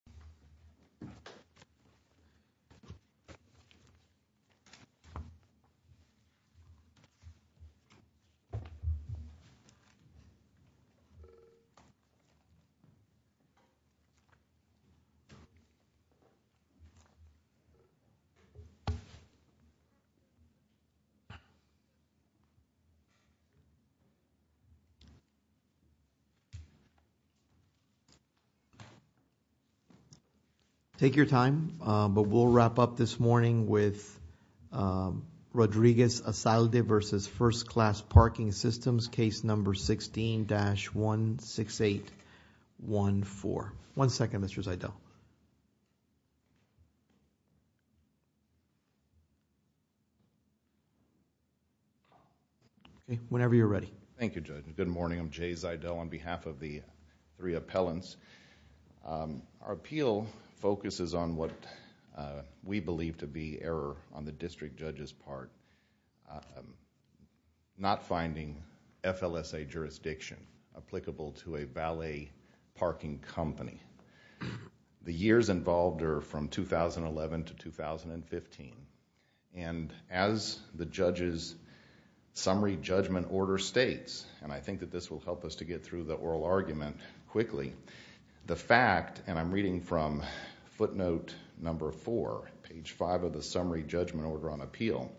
Andrea Asalde v. First Class Parking Systems LLC Take your time, but we'll wrap up this morning with Rodriguez Asalde v. First Class Parking Systems Case No. 16-16814 One second, Mr. Zeidel Whenever you're ready Thank you, Judge. Good morning, I'm Jay Zeidel On behalf of the three appellants Our appeal focuses on what we believe to be error on the district judge's part Not finding FLSA jurisdiction applicable to a valet parking company The years involved are from 2011 to 2015 And as the judge's summary judgment order states And I think that this will help us to get through the oral argument quickly The fact, and I'm reading from footnote number 4, page 5 of the summary judgment order on appeal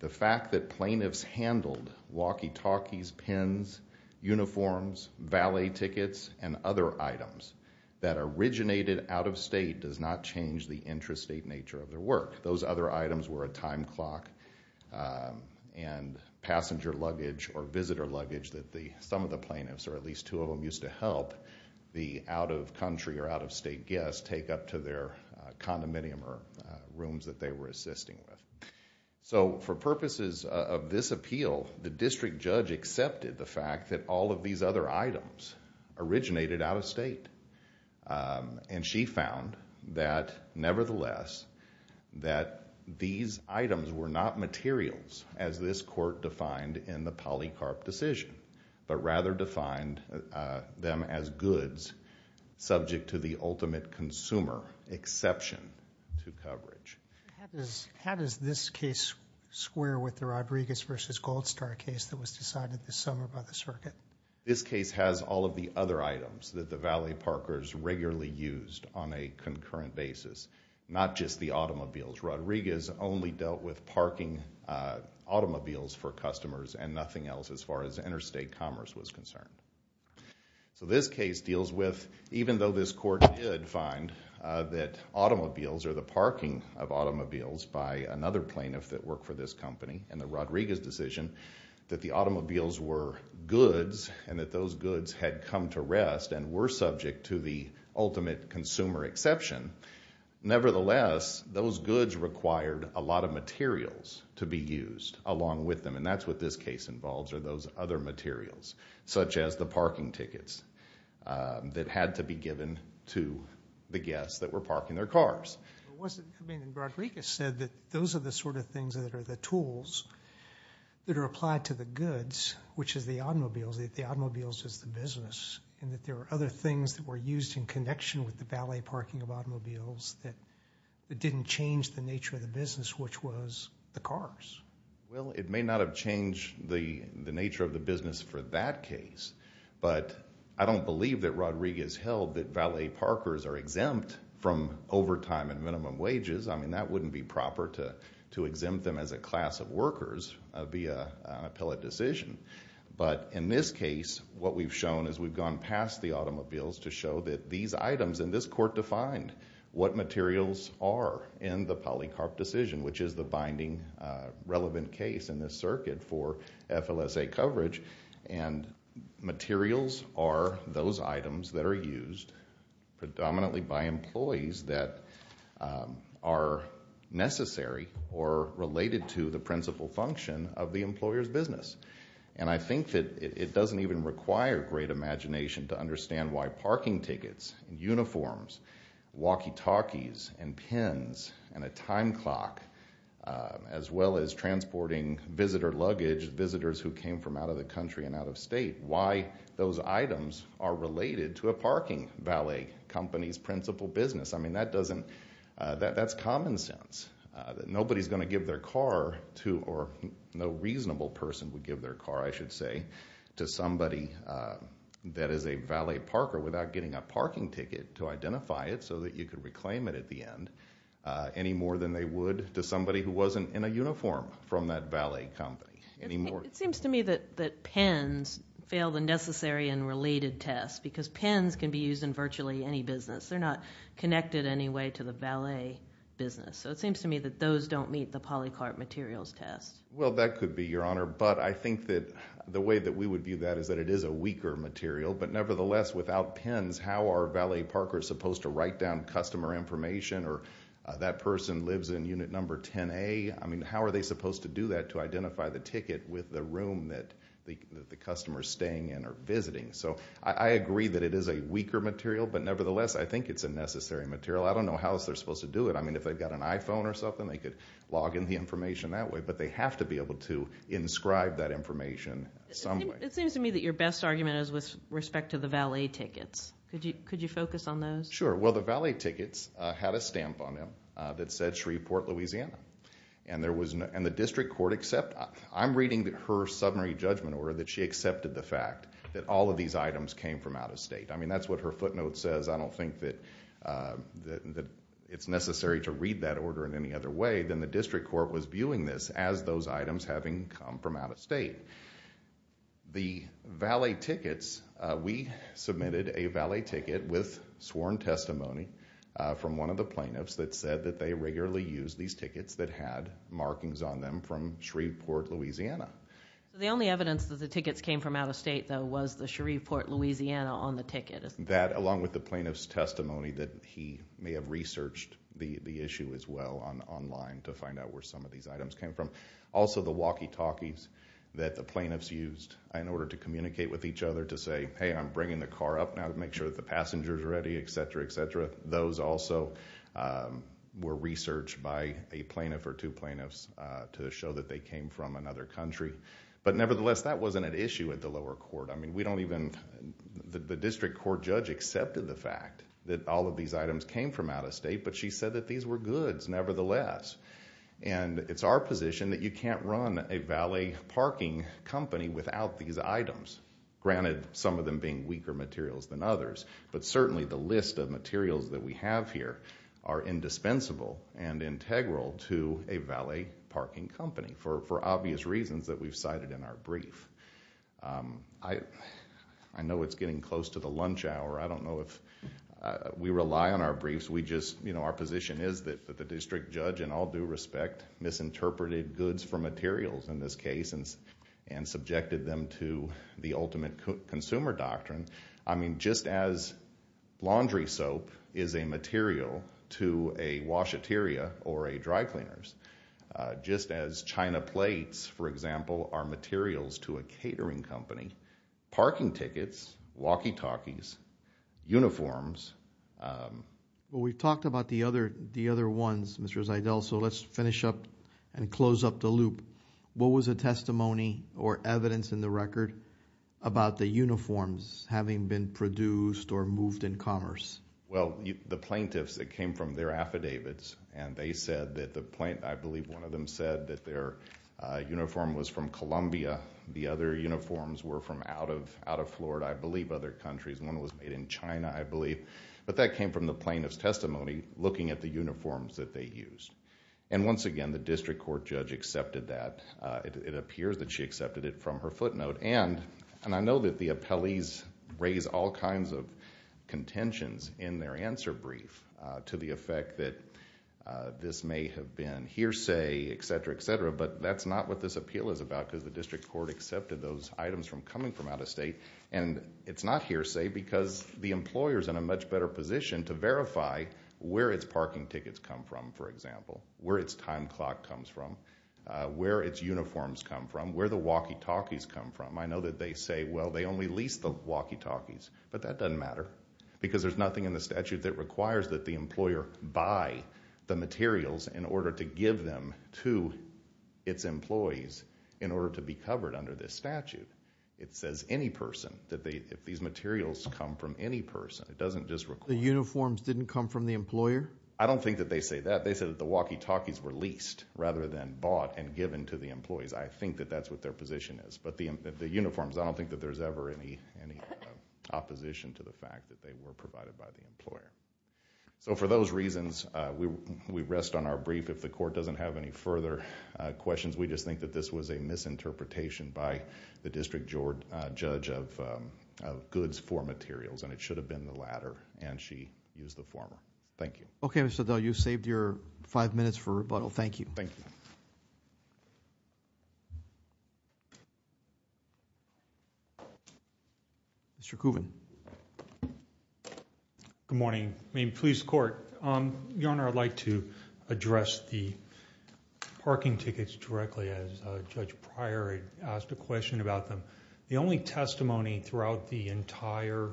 The fact that plaintiffs handled walkie-talkies, pens, uniforms, valet tickets, and other items That originated out of state does not change the intrastate nature of their work Those other items were a time clock and passenger luggage or visitor luggage That some of the plaintiffs, or at least two of them, used to help The out-of-country or out-of-state guests take up to their condominium or rooms that they were assisting with So, for purposes of this appeal, the district judge accepted the fact that all of these other items Originated out of state And she found that, nevertheless, that these items were not materials As this court defined in the polycarp decision But rather defined them as goods subject to the ultimate consumer exception to coverage How does this case square with the Rodriguez v. Goldstar case that was decided this summer by the circuit? This case has all of the other items that the valet parkers regularly used on a concurrent basis Not just the automobiles In which Rodriguez only dealt with parking automobiles for customers And nothing else as far as interstate commerce was concerned So this case deals with, even though this court did find that automobiles Or the parking of automobiles by another plaintiff that worked for this company In the Rodriguez decision, that the automobiles were goods And that those goods had come to rest and were subject to the ultimate consumer exception Nevertheless, those goods required a lot of materials to be used along with them And that's what this case involves, are those other materials Such as the parking tickets that had to be given to the guests that were parking their cars Rodriguez said that those are the sort of things that are the tools that are applied to the goods Which is the automobiles, that the automobiles is the business And that there are other things that were used in connection with the valet parking of automobiles That didn't change the nature of the business, which was the cars Well, it may not have changed the nature of the business for that case But I don't believe that Rodriguez held that valet parkers are exempt from overtime and minimum wages I mean, that wouldn't be proper to exempt them as a class of workers via an appellate decision But in this case, what we've shown is we've gone past the automobiles to show that these items And this court defined what materials are in the polycarp decision Which is the binding relevant case in this circuit for FLSA coverage And materials are those items that are used predominantly by employees That are necessary or related to the principal function of the employer's business And I think that it doesn't even require great imagination to understand why parking tickets, uniforms Walkie-talkies and pens and a time clock As well as transporting visitor luggage, visitors who came from out of the country and out of state Why those items are related to a parking valet company's principal business I mean, that doesn't, that's common sense That nobody's going to give their car to, or no reasonable person would give their car, I should say To somebody that is a valet parker without getting a parking ticket to identify it So that you could reclaim it at the end Any more than they would to somebody who wasn't in a uniform from that valet company It seems to me that pens fail the necessary and related test Because pens can be used in virtually any business They're not connected in any way to the valet business So it seems to me that those don't meet the polycart materials test Well, that could be, your honor But I think that the way that we would view that is that it is a weaker material But nevertheless, without pens, how are valet parkers supposed to write down customer information Or that person lives in unit number 10A I mean, how are they supposed to do that to identify the ticket with the room that the customer's staying in or visiting So I agree that it is a weaker material But nevertheless, I think it's a necessary material I don't know how else they're supposed to do it I mean, if they've got an iPhone or something, they could log in the information that way But they have to be able to inscribe that information some way It seems to me that your best argument is with respect to the valet tickets Could you focus on those? Sure. Well, the valet tickets had a stamp on them that said Shreveport, Louisiana And the district court accepted I'm reading her summary judgment order that she accepted the fact that all of these items came from out of state I mean, that's what her footnote says I don't think that it's necessary to read that order in any other way Then the district court was viewing this as those items having come from out of state The valet tickets, we submitted a valet ticket with sworn testimony from one of the plaintiffs That said that they regularly use these tickets that had markings on them from Shreveport, Louisiana The only evidence that the tickets came from out of state, though, was the Shreveport, Louisiana on the ticket That, along with the plaintiff's testimony that he may have researched the issue as well online To find out where some of these items came from Also, the walkie-talkies that the plaintiffs used in order to communicate with each other To say, hey, I'm bringing the car up now to make sure that the passenger's ready, etc., etc. Those also were researched by a plaintiff or two plaintiffs to show that they came from another country But nevertheless, that wasn't an issue at the lower court The district court judge accepted the fact that all of these items came from out of state But she said that these were goods, nevertheless And it's our position that you can't run a valet parking company without these items Granted, some of them being weaker materials than others But certainly the list of materials that we have here are indispensable and integral to a valet parking company For obvious reasons that we've cited in our brief I know it's getting close to the lunch hour I don't know if we rely on our briefs Our position is that the district judge, in all due respect, misinterpreted goods for materials in this case And subjected them to the ultimate consumer doctrine I mean, just as laundry soap is a material to a washeteria or a dry cleaner Just as china plates, for example, are materials to a catering company Parking tickets, walkie-talkies, uniforms We've talked about the other ones, Mr. Zeidel So let's finish up and close up the loop What was the testimony or evidence in the record about the uniforms having been produced or moved in commerce? Well, the plaintiffs, it came from their affidavits And I believe one of them said that their uniform was from Colombia The other uniforms were from out of Florida, I believe, other countries One was made in China, I believe But that came from the plaintiff's testimony, looking at the uniforms that they used And once again, the district court judge accepted that It appears that she accepted it from her footnote And I know that the appellees raise all kinds of contentions in their answer brief To the effect that this may have been hearsay, etc., etc. But that's not what this appeal is about Because the district court accepted those items from coming from out of state And it's not hearsay because the employer's in a much better position to verify Where its parking tickets come from, for example Where its time clock comes from Where its uniforms come from Where the walkie-talkies come from I know that they say, well, they only lease the walkie-talkies But that doesn't matter Because there's nothing in the statute that requires that the employer buy the materials In order to give them to its employees In order to be covered under this statute It says any person, if these materials come from any person It doesn't just require The uniforms didn't come from the employer? I don't think that they say that They say that the walkie-talkies were leased Rather than bought and given to the employees I think that that's what their position is But the uniforms, I don't think that there's ever any opposition To the fact that they were provided by the employer So for those reasons, we rest on our brief If the court doesn't have any further questions We just think that this was a misinterpretation By the district judge of goods for materials And it should have been the latter And she used the former Thank you Okay, Mr. Dell, you saved your five minutes for rebuttal Thank you Thank you Thank you Mr. Coogan Good morning, Maine Police Court Your Honor, I'd like to address the parking tickets directly As Judge Pryor asked a question about them The only testimony throughout the entire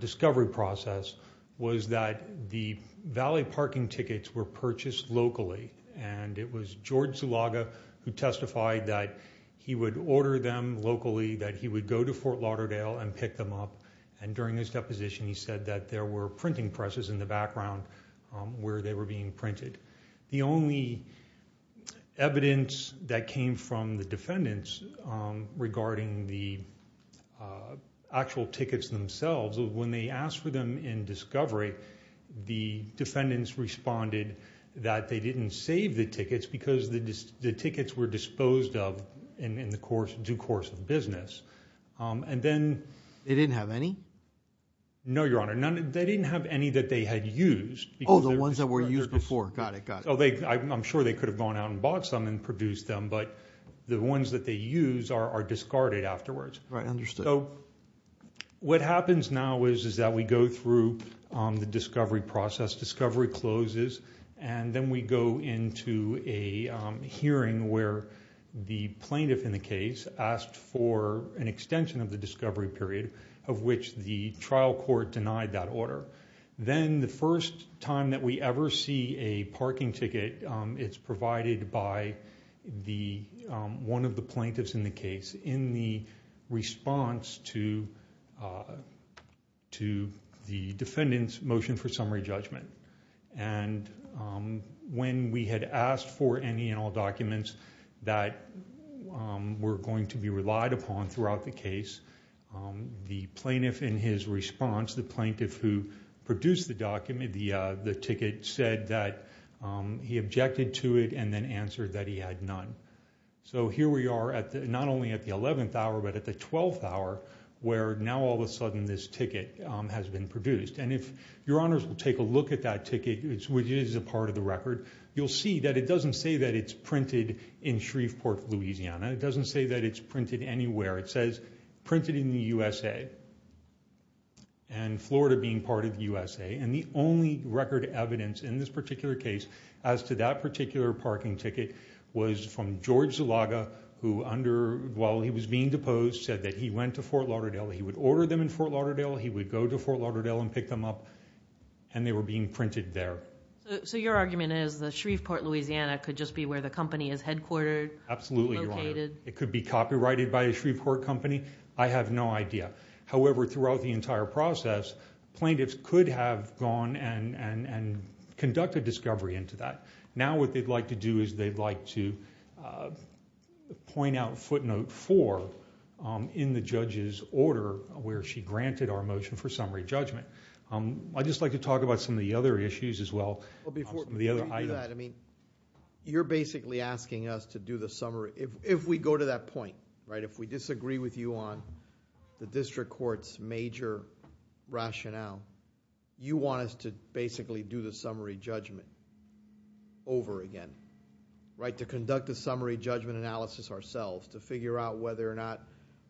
discovery process Was that the valley parking tickets were purchased locally And it was George Zulaga who testified That he would order them locally That he would go to Fort Lauderdale and pick them up And during his deposition, he said that there were Printing presses in the background Where they were being printed The only evidence that came from the defendants Regarding the actual tickets themselves Was when they asked for them in discovery The defendants responded that they didn't save the tickets Because the tickets were disposed of In the due course of business And then They didn't have any? No, Your Honor They didn't have any that they had used Oh, the ones that were used before Got it, got it I'm sure they could have gone out and bought some And produced them But the ones that they use are discarded afterwards Right, understood What happens now is that we go through the discovery process Discovery closes And then we go into a hearing Where the plaintiff in the case Asked for an extension of the discovery period Of which the trial court denied that order Then the first time that we ever see a parking ticket It's provided by one of the plaintiffs in the case In the response to the defendant's motion for summary judgment And when we had asked for any and all documents That were going to be relied upon throughout the case The plaintiff in his response The plaintiff who produced the ticket Said that he objected to it And then answered that he had none So here we are not only at the 11th hour But at the 12th hour Where now all of a sudden this ticket has been produced And if Your Honors will take a look at that ticket Which is a part of the record You'll see that it doesn't say that it's printed in Shreveport, Louisiana It doesn't say that it's printed anywhere It says printed in the USA And Florida being part of the USA And the only record evidence in this particular case As to that particular parking ticket Was from George Zulaga Who while he was being deposed Said that he went to Fort Lauderdale He would order them in Fort Lauderdale He would go to Fort Lauderdale and pick them up And they were being printed there So your argument is that Shreveport, Louisiana Could just be where the company is headquartered Absolutely Your Honor It could be copyrighted by a Shreveport company I have no idea However throughout the entire process Plaintiffs could have gone and conducted discovery into that Now what they'd like to do is They'd like to point out footnote 4 In the judge's order Where she granted our motion for summary judgment I'd just like to talk about some of the other issues as well Before we do that You're basically asking us to do the summary If we go to that point If we disagree with you on the district court's major rationale You want us to basically do the summary judgment Over again To conduct the summary judgment analysis ourselves To figure out whether or not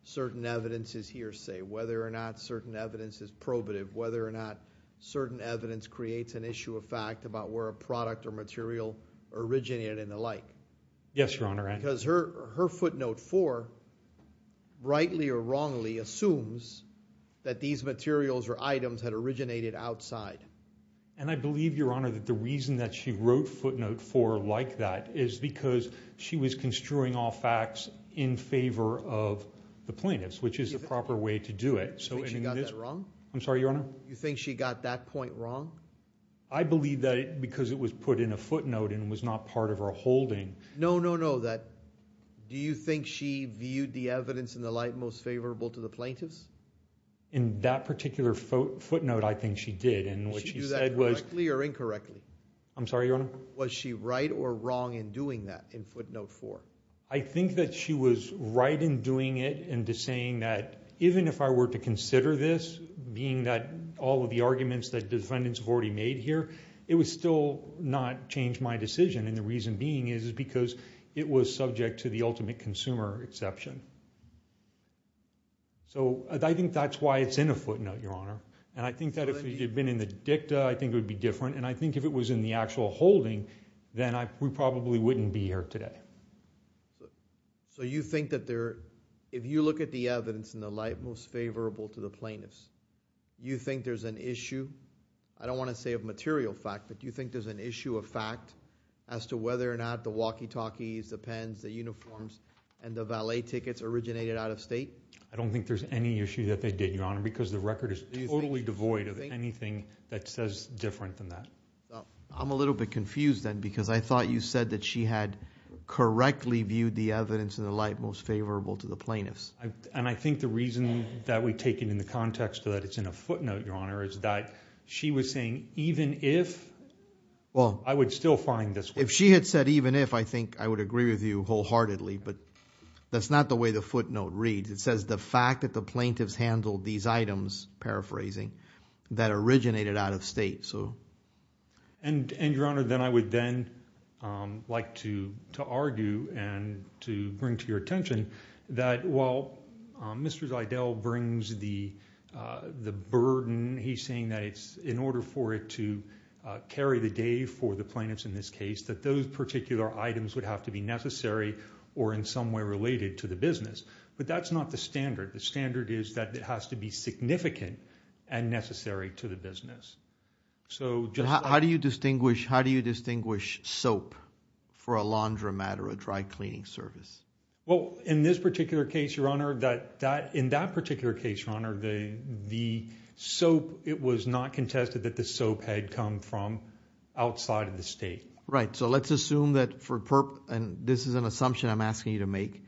certain evidence is hearsay Whether or not certain evidence is probative Whether or not certain evidence creates an issue of fact About where a product or material originated and the like Yes Your Honor Because her footnote 4 Rightly or wrongly assumes That these materials or items had originated outside And I believe Your Honor That the reason that she wrote footnote 4 like that Is because she was construing all facts In favor of the plaintiffs Which is the proper way to do it You think she got that wrong? I'm sorry Your Honor You think she got that point wrong? I believe that because it was put in a footnote And was not part of her holding No no no Do you think she viewed the evidence and the like Most favorable to the plaintiffs? In that particular footnote I think she did Did she do that correctly or incorrectly? I'm sorry Your Honor Was she right or wrong in doing that in footnote 4? I think that she was right in doing it And in saying that Even if I were to consider this Being that all of the arguments That defendants have already made here It would still not change my decision And the reason being is Because it was subject to the ultimate consumer exception So I think that's why it's in a footnote Your Honor And I think that if it had been in the dicta I think it would be different And I think if it was in the actual holding Then we probably wouldn't be here today So you think that there If you look at the evidence and the like Most favorable to the plaintiffs You think there's an issue I don't want to say of material fact But do you think there's an issue of fact As to whether or not the walkie talkies The pens, the uniforms And the valet tickets originated out of state? I don't think there's any issue that they did Your Honor Because the record is totally devoid of anything That says different than that I'm a little bit confused then Because I thought you said that she had Correctly viewed the evidence and the like Most favorable to the plaintiffs And I think the reason that we take it in the context That it's in a footnote Your Honor Is that she was saying even if I would still find this If she had said even if I think I would agree with you wholeheartedly But that's not the way the footnote reads It says the fact that the plaintiffs Handled these items, paraphrasing That originated out of state And Your Honor then I would then Like to argue and to bring to your attention That while Mr. Zeidel brings the burden He's saying that it's in order for it to Carry the day for the plaintiffs in this case That those particular items would have to be necessary Or in some way related to the business But that's not the standard The standard is that it has to be significant And necessary to the business So just like How do you distinguish How do you distinguish soap for a laundromat Or a dry cleaning service? Well in this particular case Your Honor That in that particular case Your Honor The soap, it was not contested That the soap had come from outside of the state Right, so let's assume that for And this is an assumption I'm asking you to make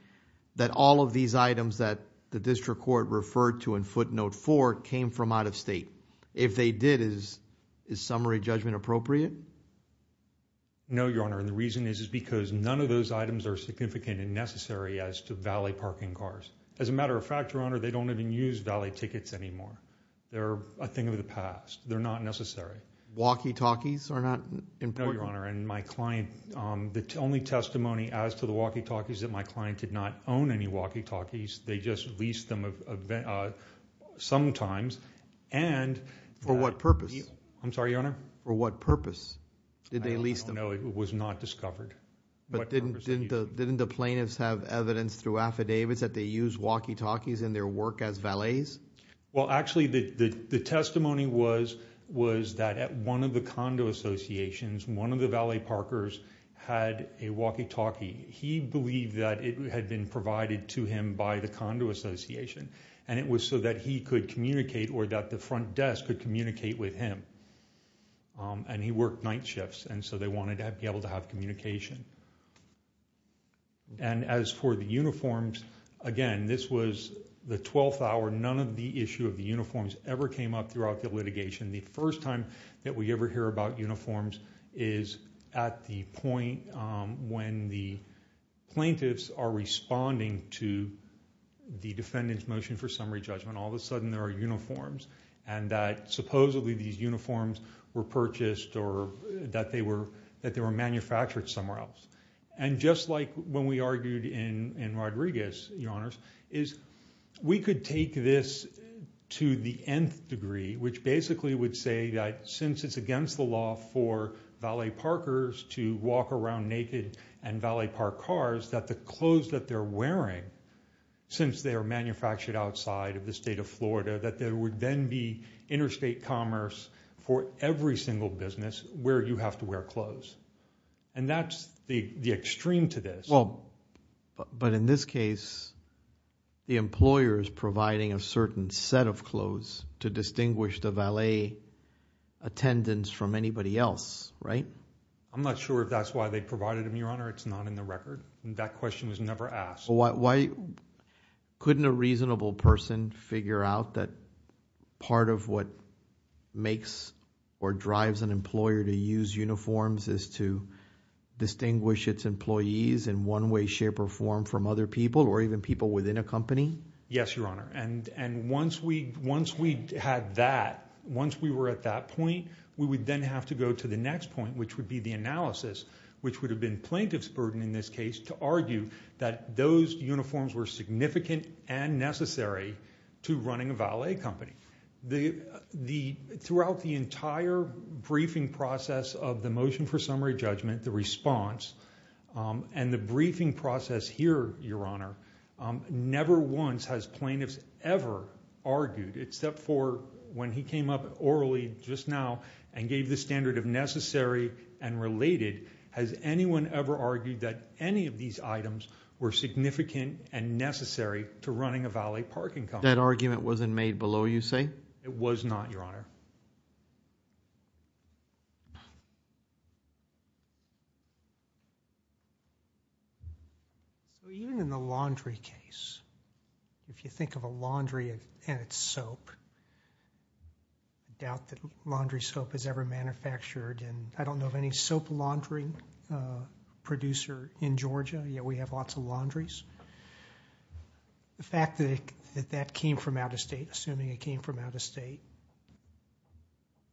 That all of these items that The district court referred to in footnote 4 Came from out of state If they did is Is summary judgment appropriate? No Your Honor and the reason is Is because none of those items are significant And necessary as to valet parking cars As a matter of fact Your Honor They don't even use valet tickets anymore They're a thing of the past They're not necessary Walkie-talkies are not important? No Your Honor and my client The only testimony as to the walkie-talkies Is that my client did not own any walkie-talkies They just leased them sometimes And For what purpose? I'm sorry Your Honor For what purpose did they lease them? I don't know, it was not discovered But didn't the plaintiffs have evidence Through affidavits that they use walkie-talkies In their work as valets? Well actually the testimony was Was that at one of the condo associations One of the valet parkers had a walkie-talkie And he believed that it had been provided to him By the condo association And it was so that he could communicate Or that the front desk could communicate with him And he worked night shifts And so they wanted to be able to have communication And as for the uniforms Again this was the 12th hour None of the issue of the uniforms Ever came up throughout the litigation The first time that we ever hear about uniforms Is at the point when the plaintiffs Are responding to the defendant's motion For summary judgment All of a sudden there are uniforms And that supposedly these uniforms were purchased Or that they were manufactured somewhere else And just like when we argued in Rodriguez Your Honors Is we could take this to the nth degree Which basically would say that Since it's against the law for valet parkers To walk around naked and valet park cars That the clothes that they're wearing Since they are manufactured outside of the state of Florida That there would then be interstate commerce For every single business Where you have to wear clothes And that's the extreme to this But in this case The employer is providing a certain set of clothes To distinguish the valet attendants From anybody else, right? I'm not sure if that's why they provided them Your Honor, it's not in the record That question was never asked Why couldn't a reasonable person figure out That part of what makes or drives an employer To use uniforms is to distinguish its employees In one way, shape or form from other people Or even people within a company Yes, Your Honor And once we had that Once we were at that point We would then have to go to the next point Which would be the analysis Which would have been plaintiff's burden in this case To argue that those uniforms were significant And necessary to running a valet company Throughout the entire briefing process Of the motion for summary judgment The response And the briefing process here, Your Honor Never once has plaintiffs ever argued Except for when he came up orally just now And gave the standard of necessary and related Has anyone ever argued that any of these items Were significant and necessary To running a valet parking company That argument wasn't made below, you say? It was not, Your Honor So even in the laundry case If you think of a laundry and its soap I doubt that laundry soap is ever manufactured And I don't know of any soap laundry producer in Georgia Yet we have lots of laundries The fact that that came from out of state Assuming it came from out of state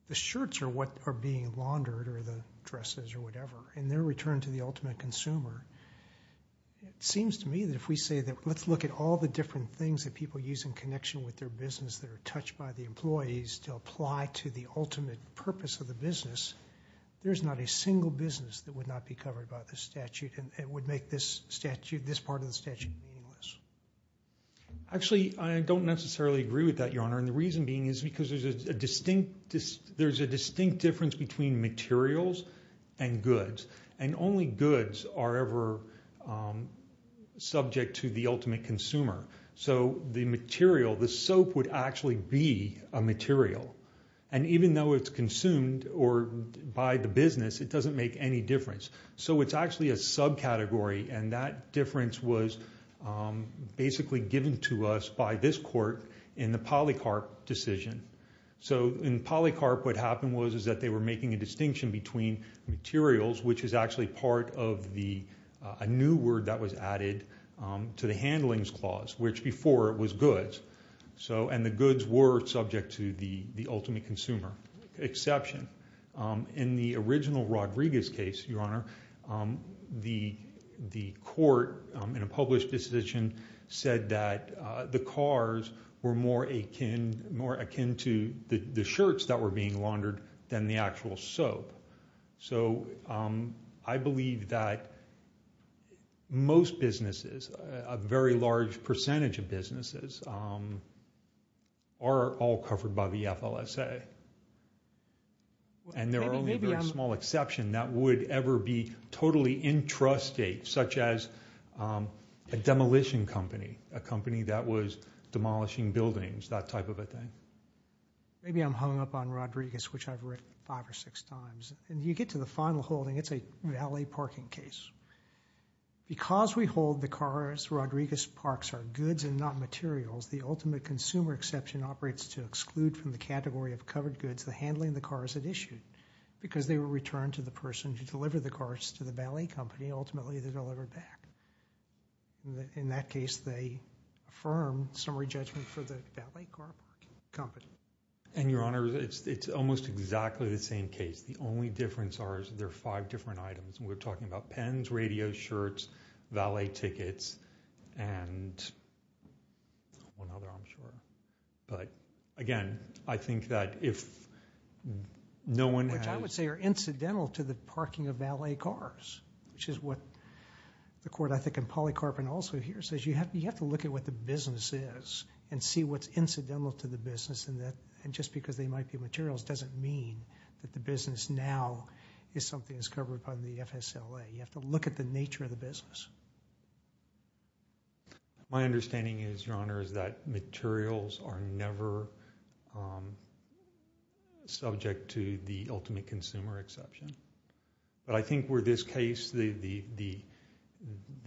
The shirts are what are being laundered Or the dresses or whatever And they're returned to the ultimate consumer It seems to me that if we say that Let's look at all the different things That people use in connection with their business That are touched by the employees To apply to the ultimate purpose of the business There's not a single business That would not be covered by this statute And it would make this statute This part of the statute meaningless Actually, I don't necessarily agree with that, Your Honor And the reason being is because There's a distinct difference Between materials and goods And only goods are ever subject To the ultimate consumer So the material, the soap Would actually be a material And even though it's consumed Or by the business It doesn't make any difference So it's actually a subcategory And that difference was Basically given to us by this court In the Polycarp decision So in Polycarp what happened was Is that they were making a distinction Between materials Which is actually part of the A new word that was added To the Handlings Clause Which before it was goods And the goods were subject to The ultimate consumer exception In the original Rodriguez case, Your Honor The court in a published decision Said that the cars were more akin To the shirts that were being laundered Than the actual soap So I believe that Most businesses A very large percentage of businesses Are all covered by the FLSA And there are only a very small exception That would ever be totally intrusive Such as a demolition company A company that was demolishing buildings That type of a thing Maybe I'm hung up on Rodriguez Which I've read five or six times And you get to the final holding It's a valet parking case Because we hold the cars Rodriguez parks are goods and not materials The ultimate consumer exception Operates to exclude from the category Of covered goods the handling The cars had issued Because they were returned to the person Who delivered the cars to the valet company Ultimately they're delivered back In that case they affirm Summary judgment for the valet car company And Your Honor It's almost exactly the same case The only difference are There are five different items We're talking about pens, radios, shirts Valet tickets And one other I'm sure But again I think that Which I would say are incidental To the parking of valet cars Which is what the court I think And polycarbonate also here says You have to look at what the business is And see what's incidental to the business And just because they might be materials Doesn't mean that the business now Is something that's covered by the FSLA You have to look at the nature of the business My understanding is Your Honor Is that materials are never Subject to the ultimate consumer exception But I think where this case The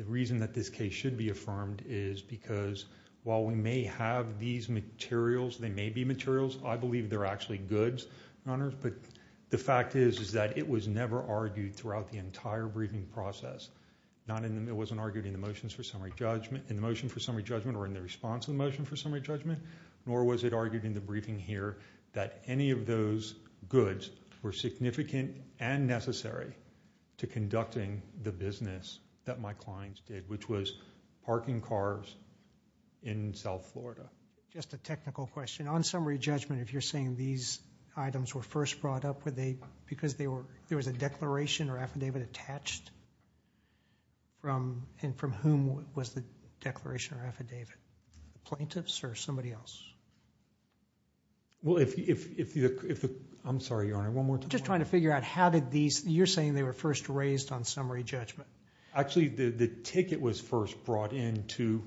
reason that this case should be affirmed Is because while we may have these materials They may be materials I believe they're actually goods Your Honor But the fact is that It was never argued throughout the entire Briefing process It wasn't argued in the motions for summary judgment In the motion for summary judgment Or in the response to the motion for summary judgment Nor was it argued in the briefing here That any of those goods Were significant and necessary To conducting the business That my clients did Which was parking cars In South Florida Just a technical question On summary judgment if you're saying these Items were first brought up Were they because they were There was a declaration or affidavit attached And from whom was the declaration or affidavit The plaintiffs or somebody else Well if you I'm sorry Your Honor Just trying to figure out how did these You're saying they were first raised On summary judgment Actually the ticket was first brought in To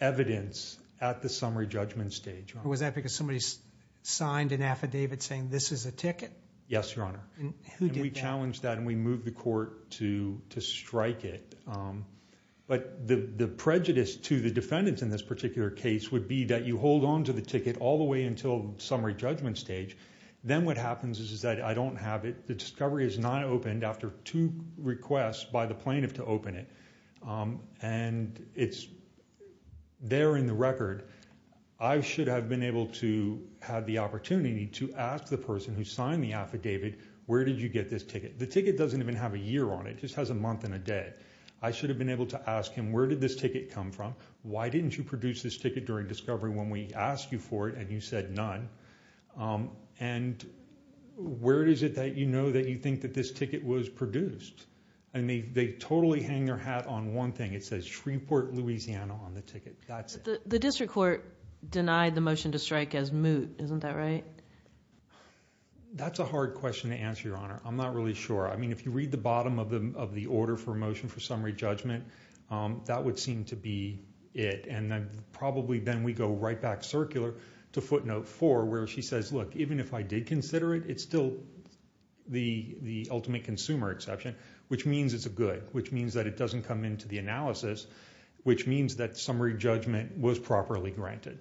evidence at the summary judgment stage Was that because somebody signed an affidavit Saying this is a ticket Yes Your Honor And who did that And we challenged that And we moved the court to strike it But the prejudice to the defendants In this particular case Would be that you hold on to the ticket All the way until summary judgment stage Then what happens is that I don't have it The discovery is not opened After two requests by the plaintiff to open it And it's there in the record I should have been able to Have the opportunity to ask the person Who signed the affidavit Where did you get this ticket The ticket doesn't even have a year on it It just has a month and a day I should have been able to ask him Where did this ticket come from Why didn't you produce this ticket during discovery When we asked you for it and you said none And where is it that you know That you think that this ticket was produced And they totally hang their hat on one thing It says Shreveport, Louisiana on the ticket That's it The district court denied the motion to strike as moot Isn't that right That's a hard question to answer your honor I'm not really sure I mean if you read the bottom of the order For motion for summary judgment That would seem to be it And probably then we go right back circular To footnote four where she says look Even if I did consider it It's still the ultimate consumer exception Which means it's a good Which means that it doesn't come into the analysis Which means that summary judgment was properly granted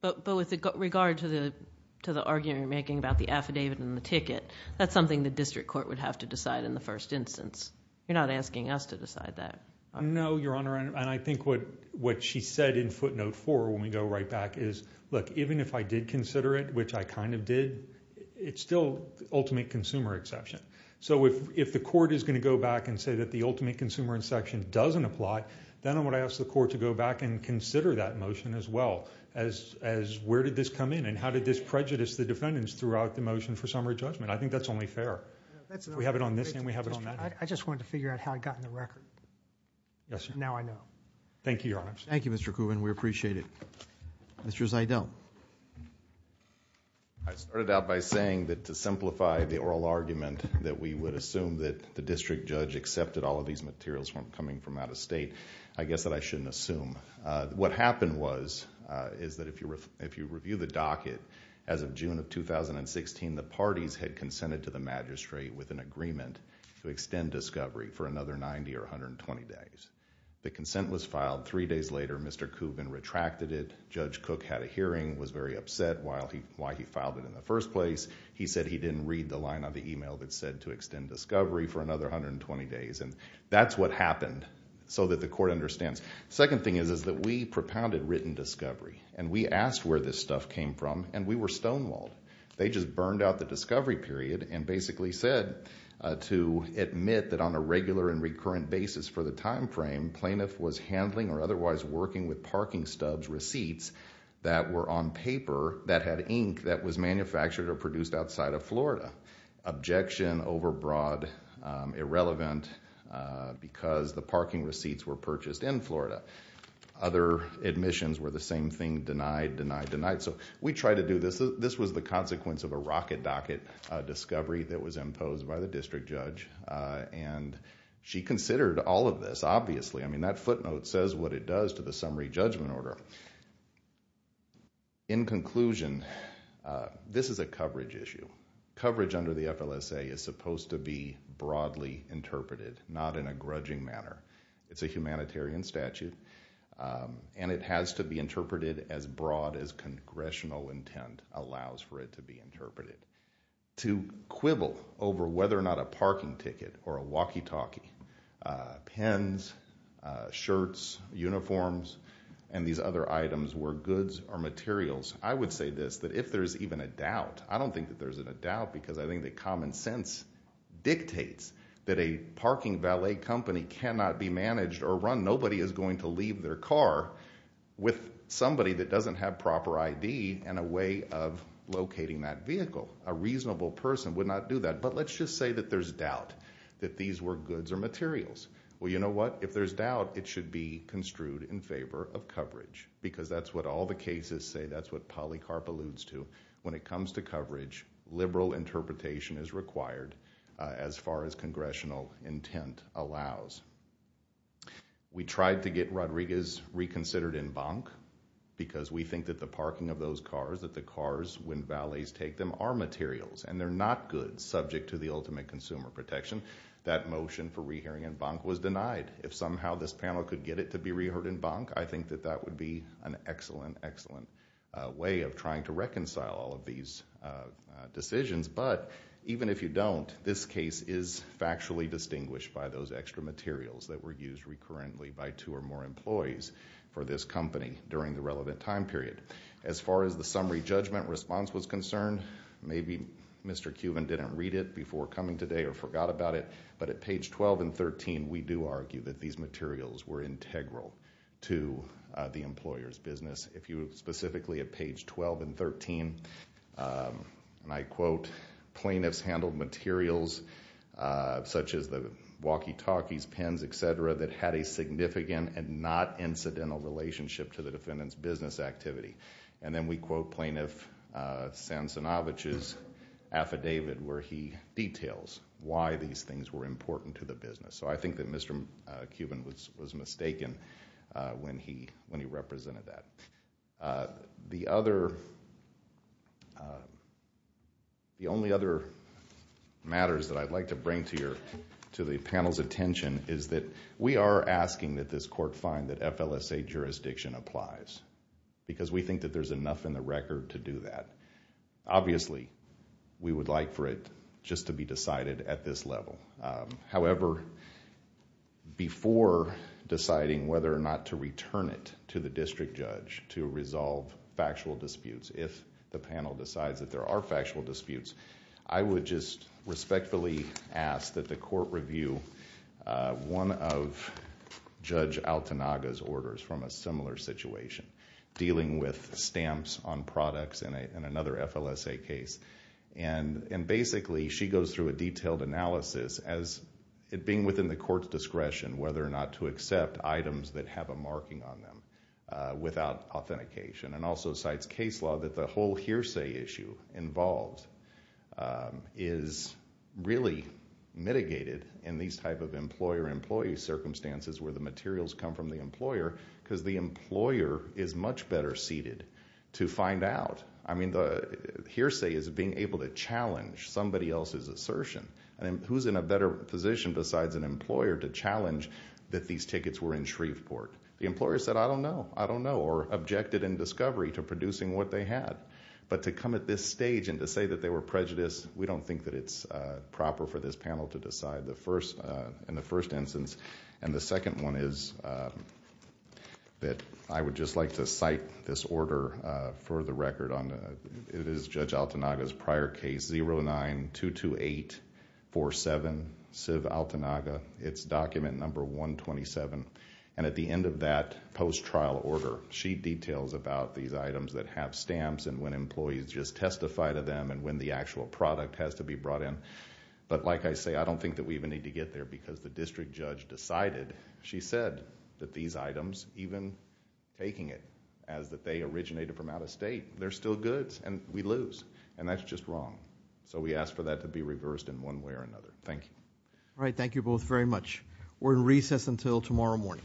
But with regard to the argument you're making About the affidavit and the ticket That's something the district court would have to decide In the first instance You're not asking us to decide that No your honor And I think what she said in footnote four When we go right back is Look even if I did consider it Which I kind of did It's still ultimate consumer exception So if the court is going to go back And say that the ultimate consumer in section Doesn't apply Then I would ask the court to go back And consider that motion as well As where did this come in And how did this prejudice the defendants Throughout the motion for summary judgment I think that's only fair We have it on this And we have it on that I just wanted to figure out How it got in the record Yes sir Now I know Thank you your honor Thank you Mr. Kubin We appreciate it Mr. Zeidel I started out by saying That to simplify the oral argument That we would assume That the district judge accepted All of these materials From coming from out of state I guess that I shouldn't assume What happened was Is that if you review the docket As of June of 2016 The parties had consented to the magistrate With an agreement To extend discovery For another 90 or 120 days The consent was filed Three days later Mr. Kubin retracted it Judge Cook had a hearing Was very upset Why he filed it in the first place He said he didn't read the line on the email That said to extend discovery For another 120 days And that's what happened So that the court understands Second thing is Is that we propounded written discovery And we asked where this stuff came from And we were stonewalled They just burned out the discovery period And basically said To admit that on a regular And recurrent basis for the time frame Plaintiff was handling Or otherwise working With parking stubs receipts That were on paper That had ink That was manufactured Or produced outside of Florida Objection over broad Irrelevant Because the parking receipts Were purchased in Florida Other admissions Were the same thing Denied, denied, denied So we tried to do this This was the consequence Of a rocket docket discovery That was imposed By the district judge And she considered All of this obviously I mean that footnote Says what it does To the summary judgment order In conclusion This is a coverage issue Coverage under the FLSA Is supposed to be Interpreted not in a grudging manner It's a humanitarian statute And it has to be interpreted As broad as congressional intent Allows for it to be interpreted To quibble over Whether or not a parking ticket Or a walkie talkie Pens, shirts, uniforms And these other items Were goods or materials I would say this That if there's even a doubt I don't think that there's a doubt Because I think that common sense Dictates That a parking valet company Cannot be managed or run Nobody is going to leave their car With somebody that doesn't have proper ID And a way of locating that vehicle A reasonable person would not do that But let's just say that there's doubt That these were goods or materials Well you know what If there's doubt It should be construed in favor of coverage Because that's what all the cases say That's what Polycarp alludes to When it comes to coverage Liberal interpretation is required As far as congressional intent allows We tried to get Rodriguez Reconsidered in bonk Because we think that the parking of those cars That the cars when valets take them Are materials And they're not goods Subject to the ultimate consumer protection That motion for rehearing in bonk Was denied If somehow this panel could get it To be reheard in bonk I think that that would be An excellent, excellent way Of trying to reconcile All of these decisions But even if you don't This case is factually distinguished By those extra materials That were used recurrently By two or more employees For this company During the relevant time period As far as the summary judgment response Was concerned Maybe Mr. Cuban didn't read it Before coming today Or forgot about it But at page 12 and 13 We do argue that these materials Were integral to the employer's business If you specifically at page 12 and 13 And I quote Plaintiffs handled materials Such as the walkie-talkies, pens, etc. That had a significant And not incidental relationship To the defendant's business activity And then we quote plaintiff Sansonovich's affidavit Where he details Why these things were important to the business So I think that Mr. Cuban was mistaken When he represented that The other The only other matters That I'd like to bring to your To the panel's attention Is that we are asking that this court Find that FLSA jurisdiction applies Because we think that there's enough In the record to do that Obviously we would like for it Just to be decided at this level However before deciding Whether or not to return it To the district judge To resolve factual disputes If the panel decides That there are factual disputes I would just respectfully ask That the court review One of Judge Altanaga's orders From a similar situation Dealing with stamps on products In another FLSA case And basically she goes through A detailed analysis As it being within the court's discretion Whether or not to accept items That have a marking on them Without authentication And also cites case law That the whole hearsay issue involved Is really mitigated In these type of employer-employee circumstances Where the materials come from the employer Because the employer is much better seated To find out I mean the hearsay Is being able to challenge Somebody else's assertion And who's in a better position Besides an employer To challenge that these tickets Were in Shreveport The employer said I don't know I don't know Or objected in discovery To producing what they had But to come at this stage And to say that they were prejudiced We don't think that it's proper For this panel to decide In the first instance And the second one is That I would just like to cite this order For the record It is Judge Altanaga's prior case 09-228-47 It's document number 127 And at the end of that post-trial order She details about these items That have stamps And when employees just testify to them And when the actual product Has to be brought in But like I say I don't think that we even need to get there Because the district judge decided She said that these items Even taking it As that they originated from out of state They're still goods And we lose And that's just wrong So we ask for that to be reversed In one way or another Thank you All right, thank you both very much We're in recess until tomorrow morning All rise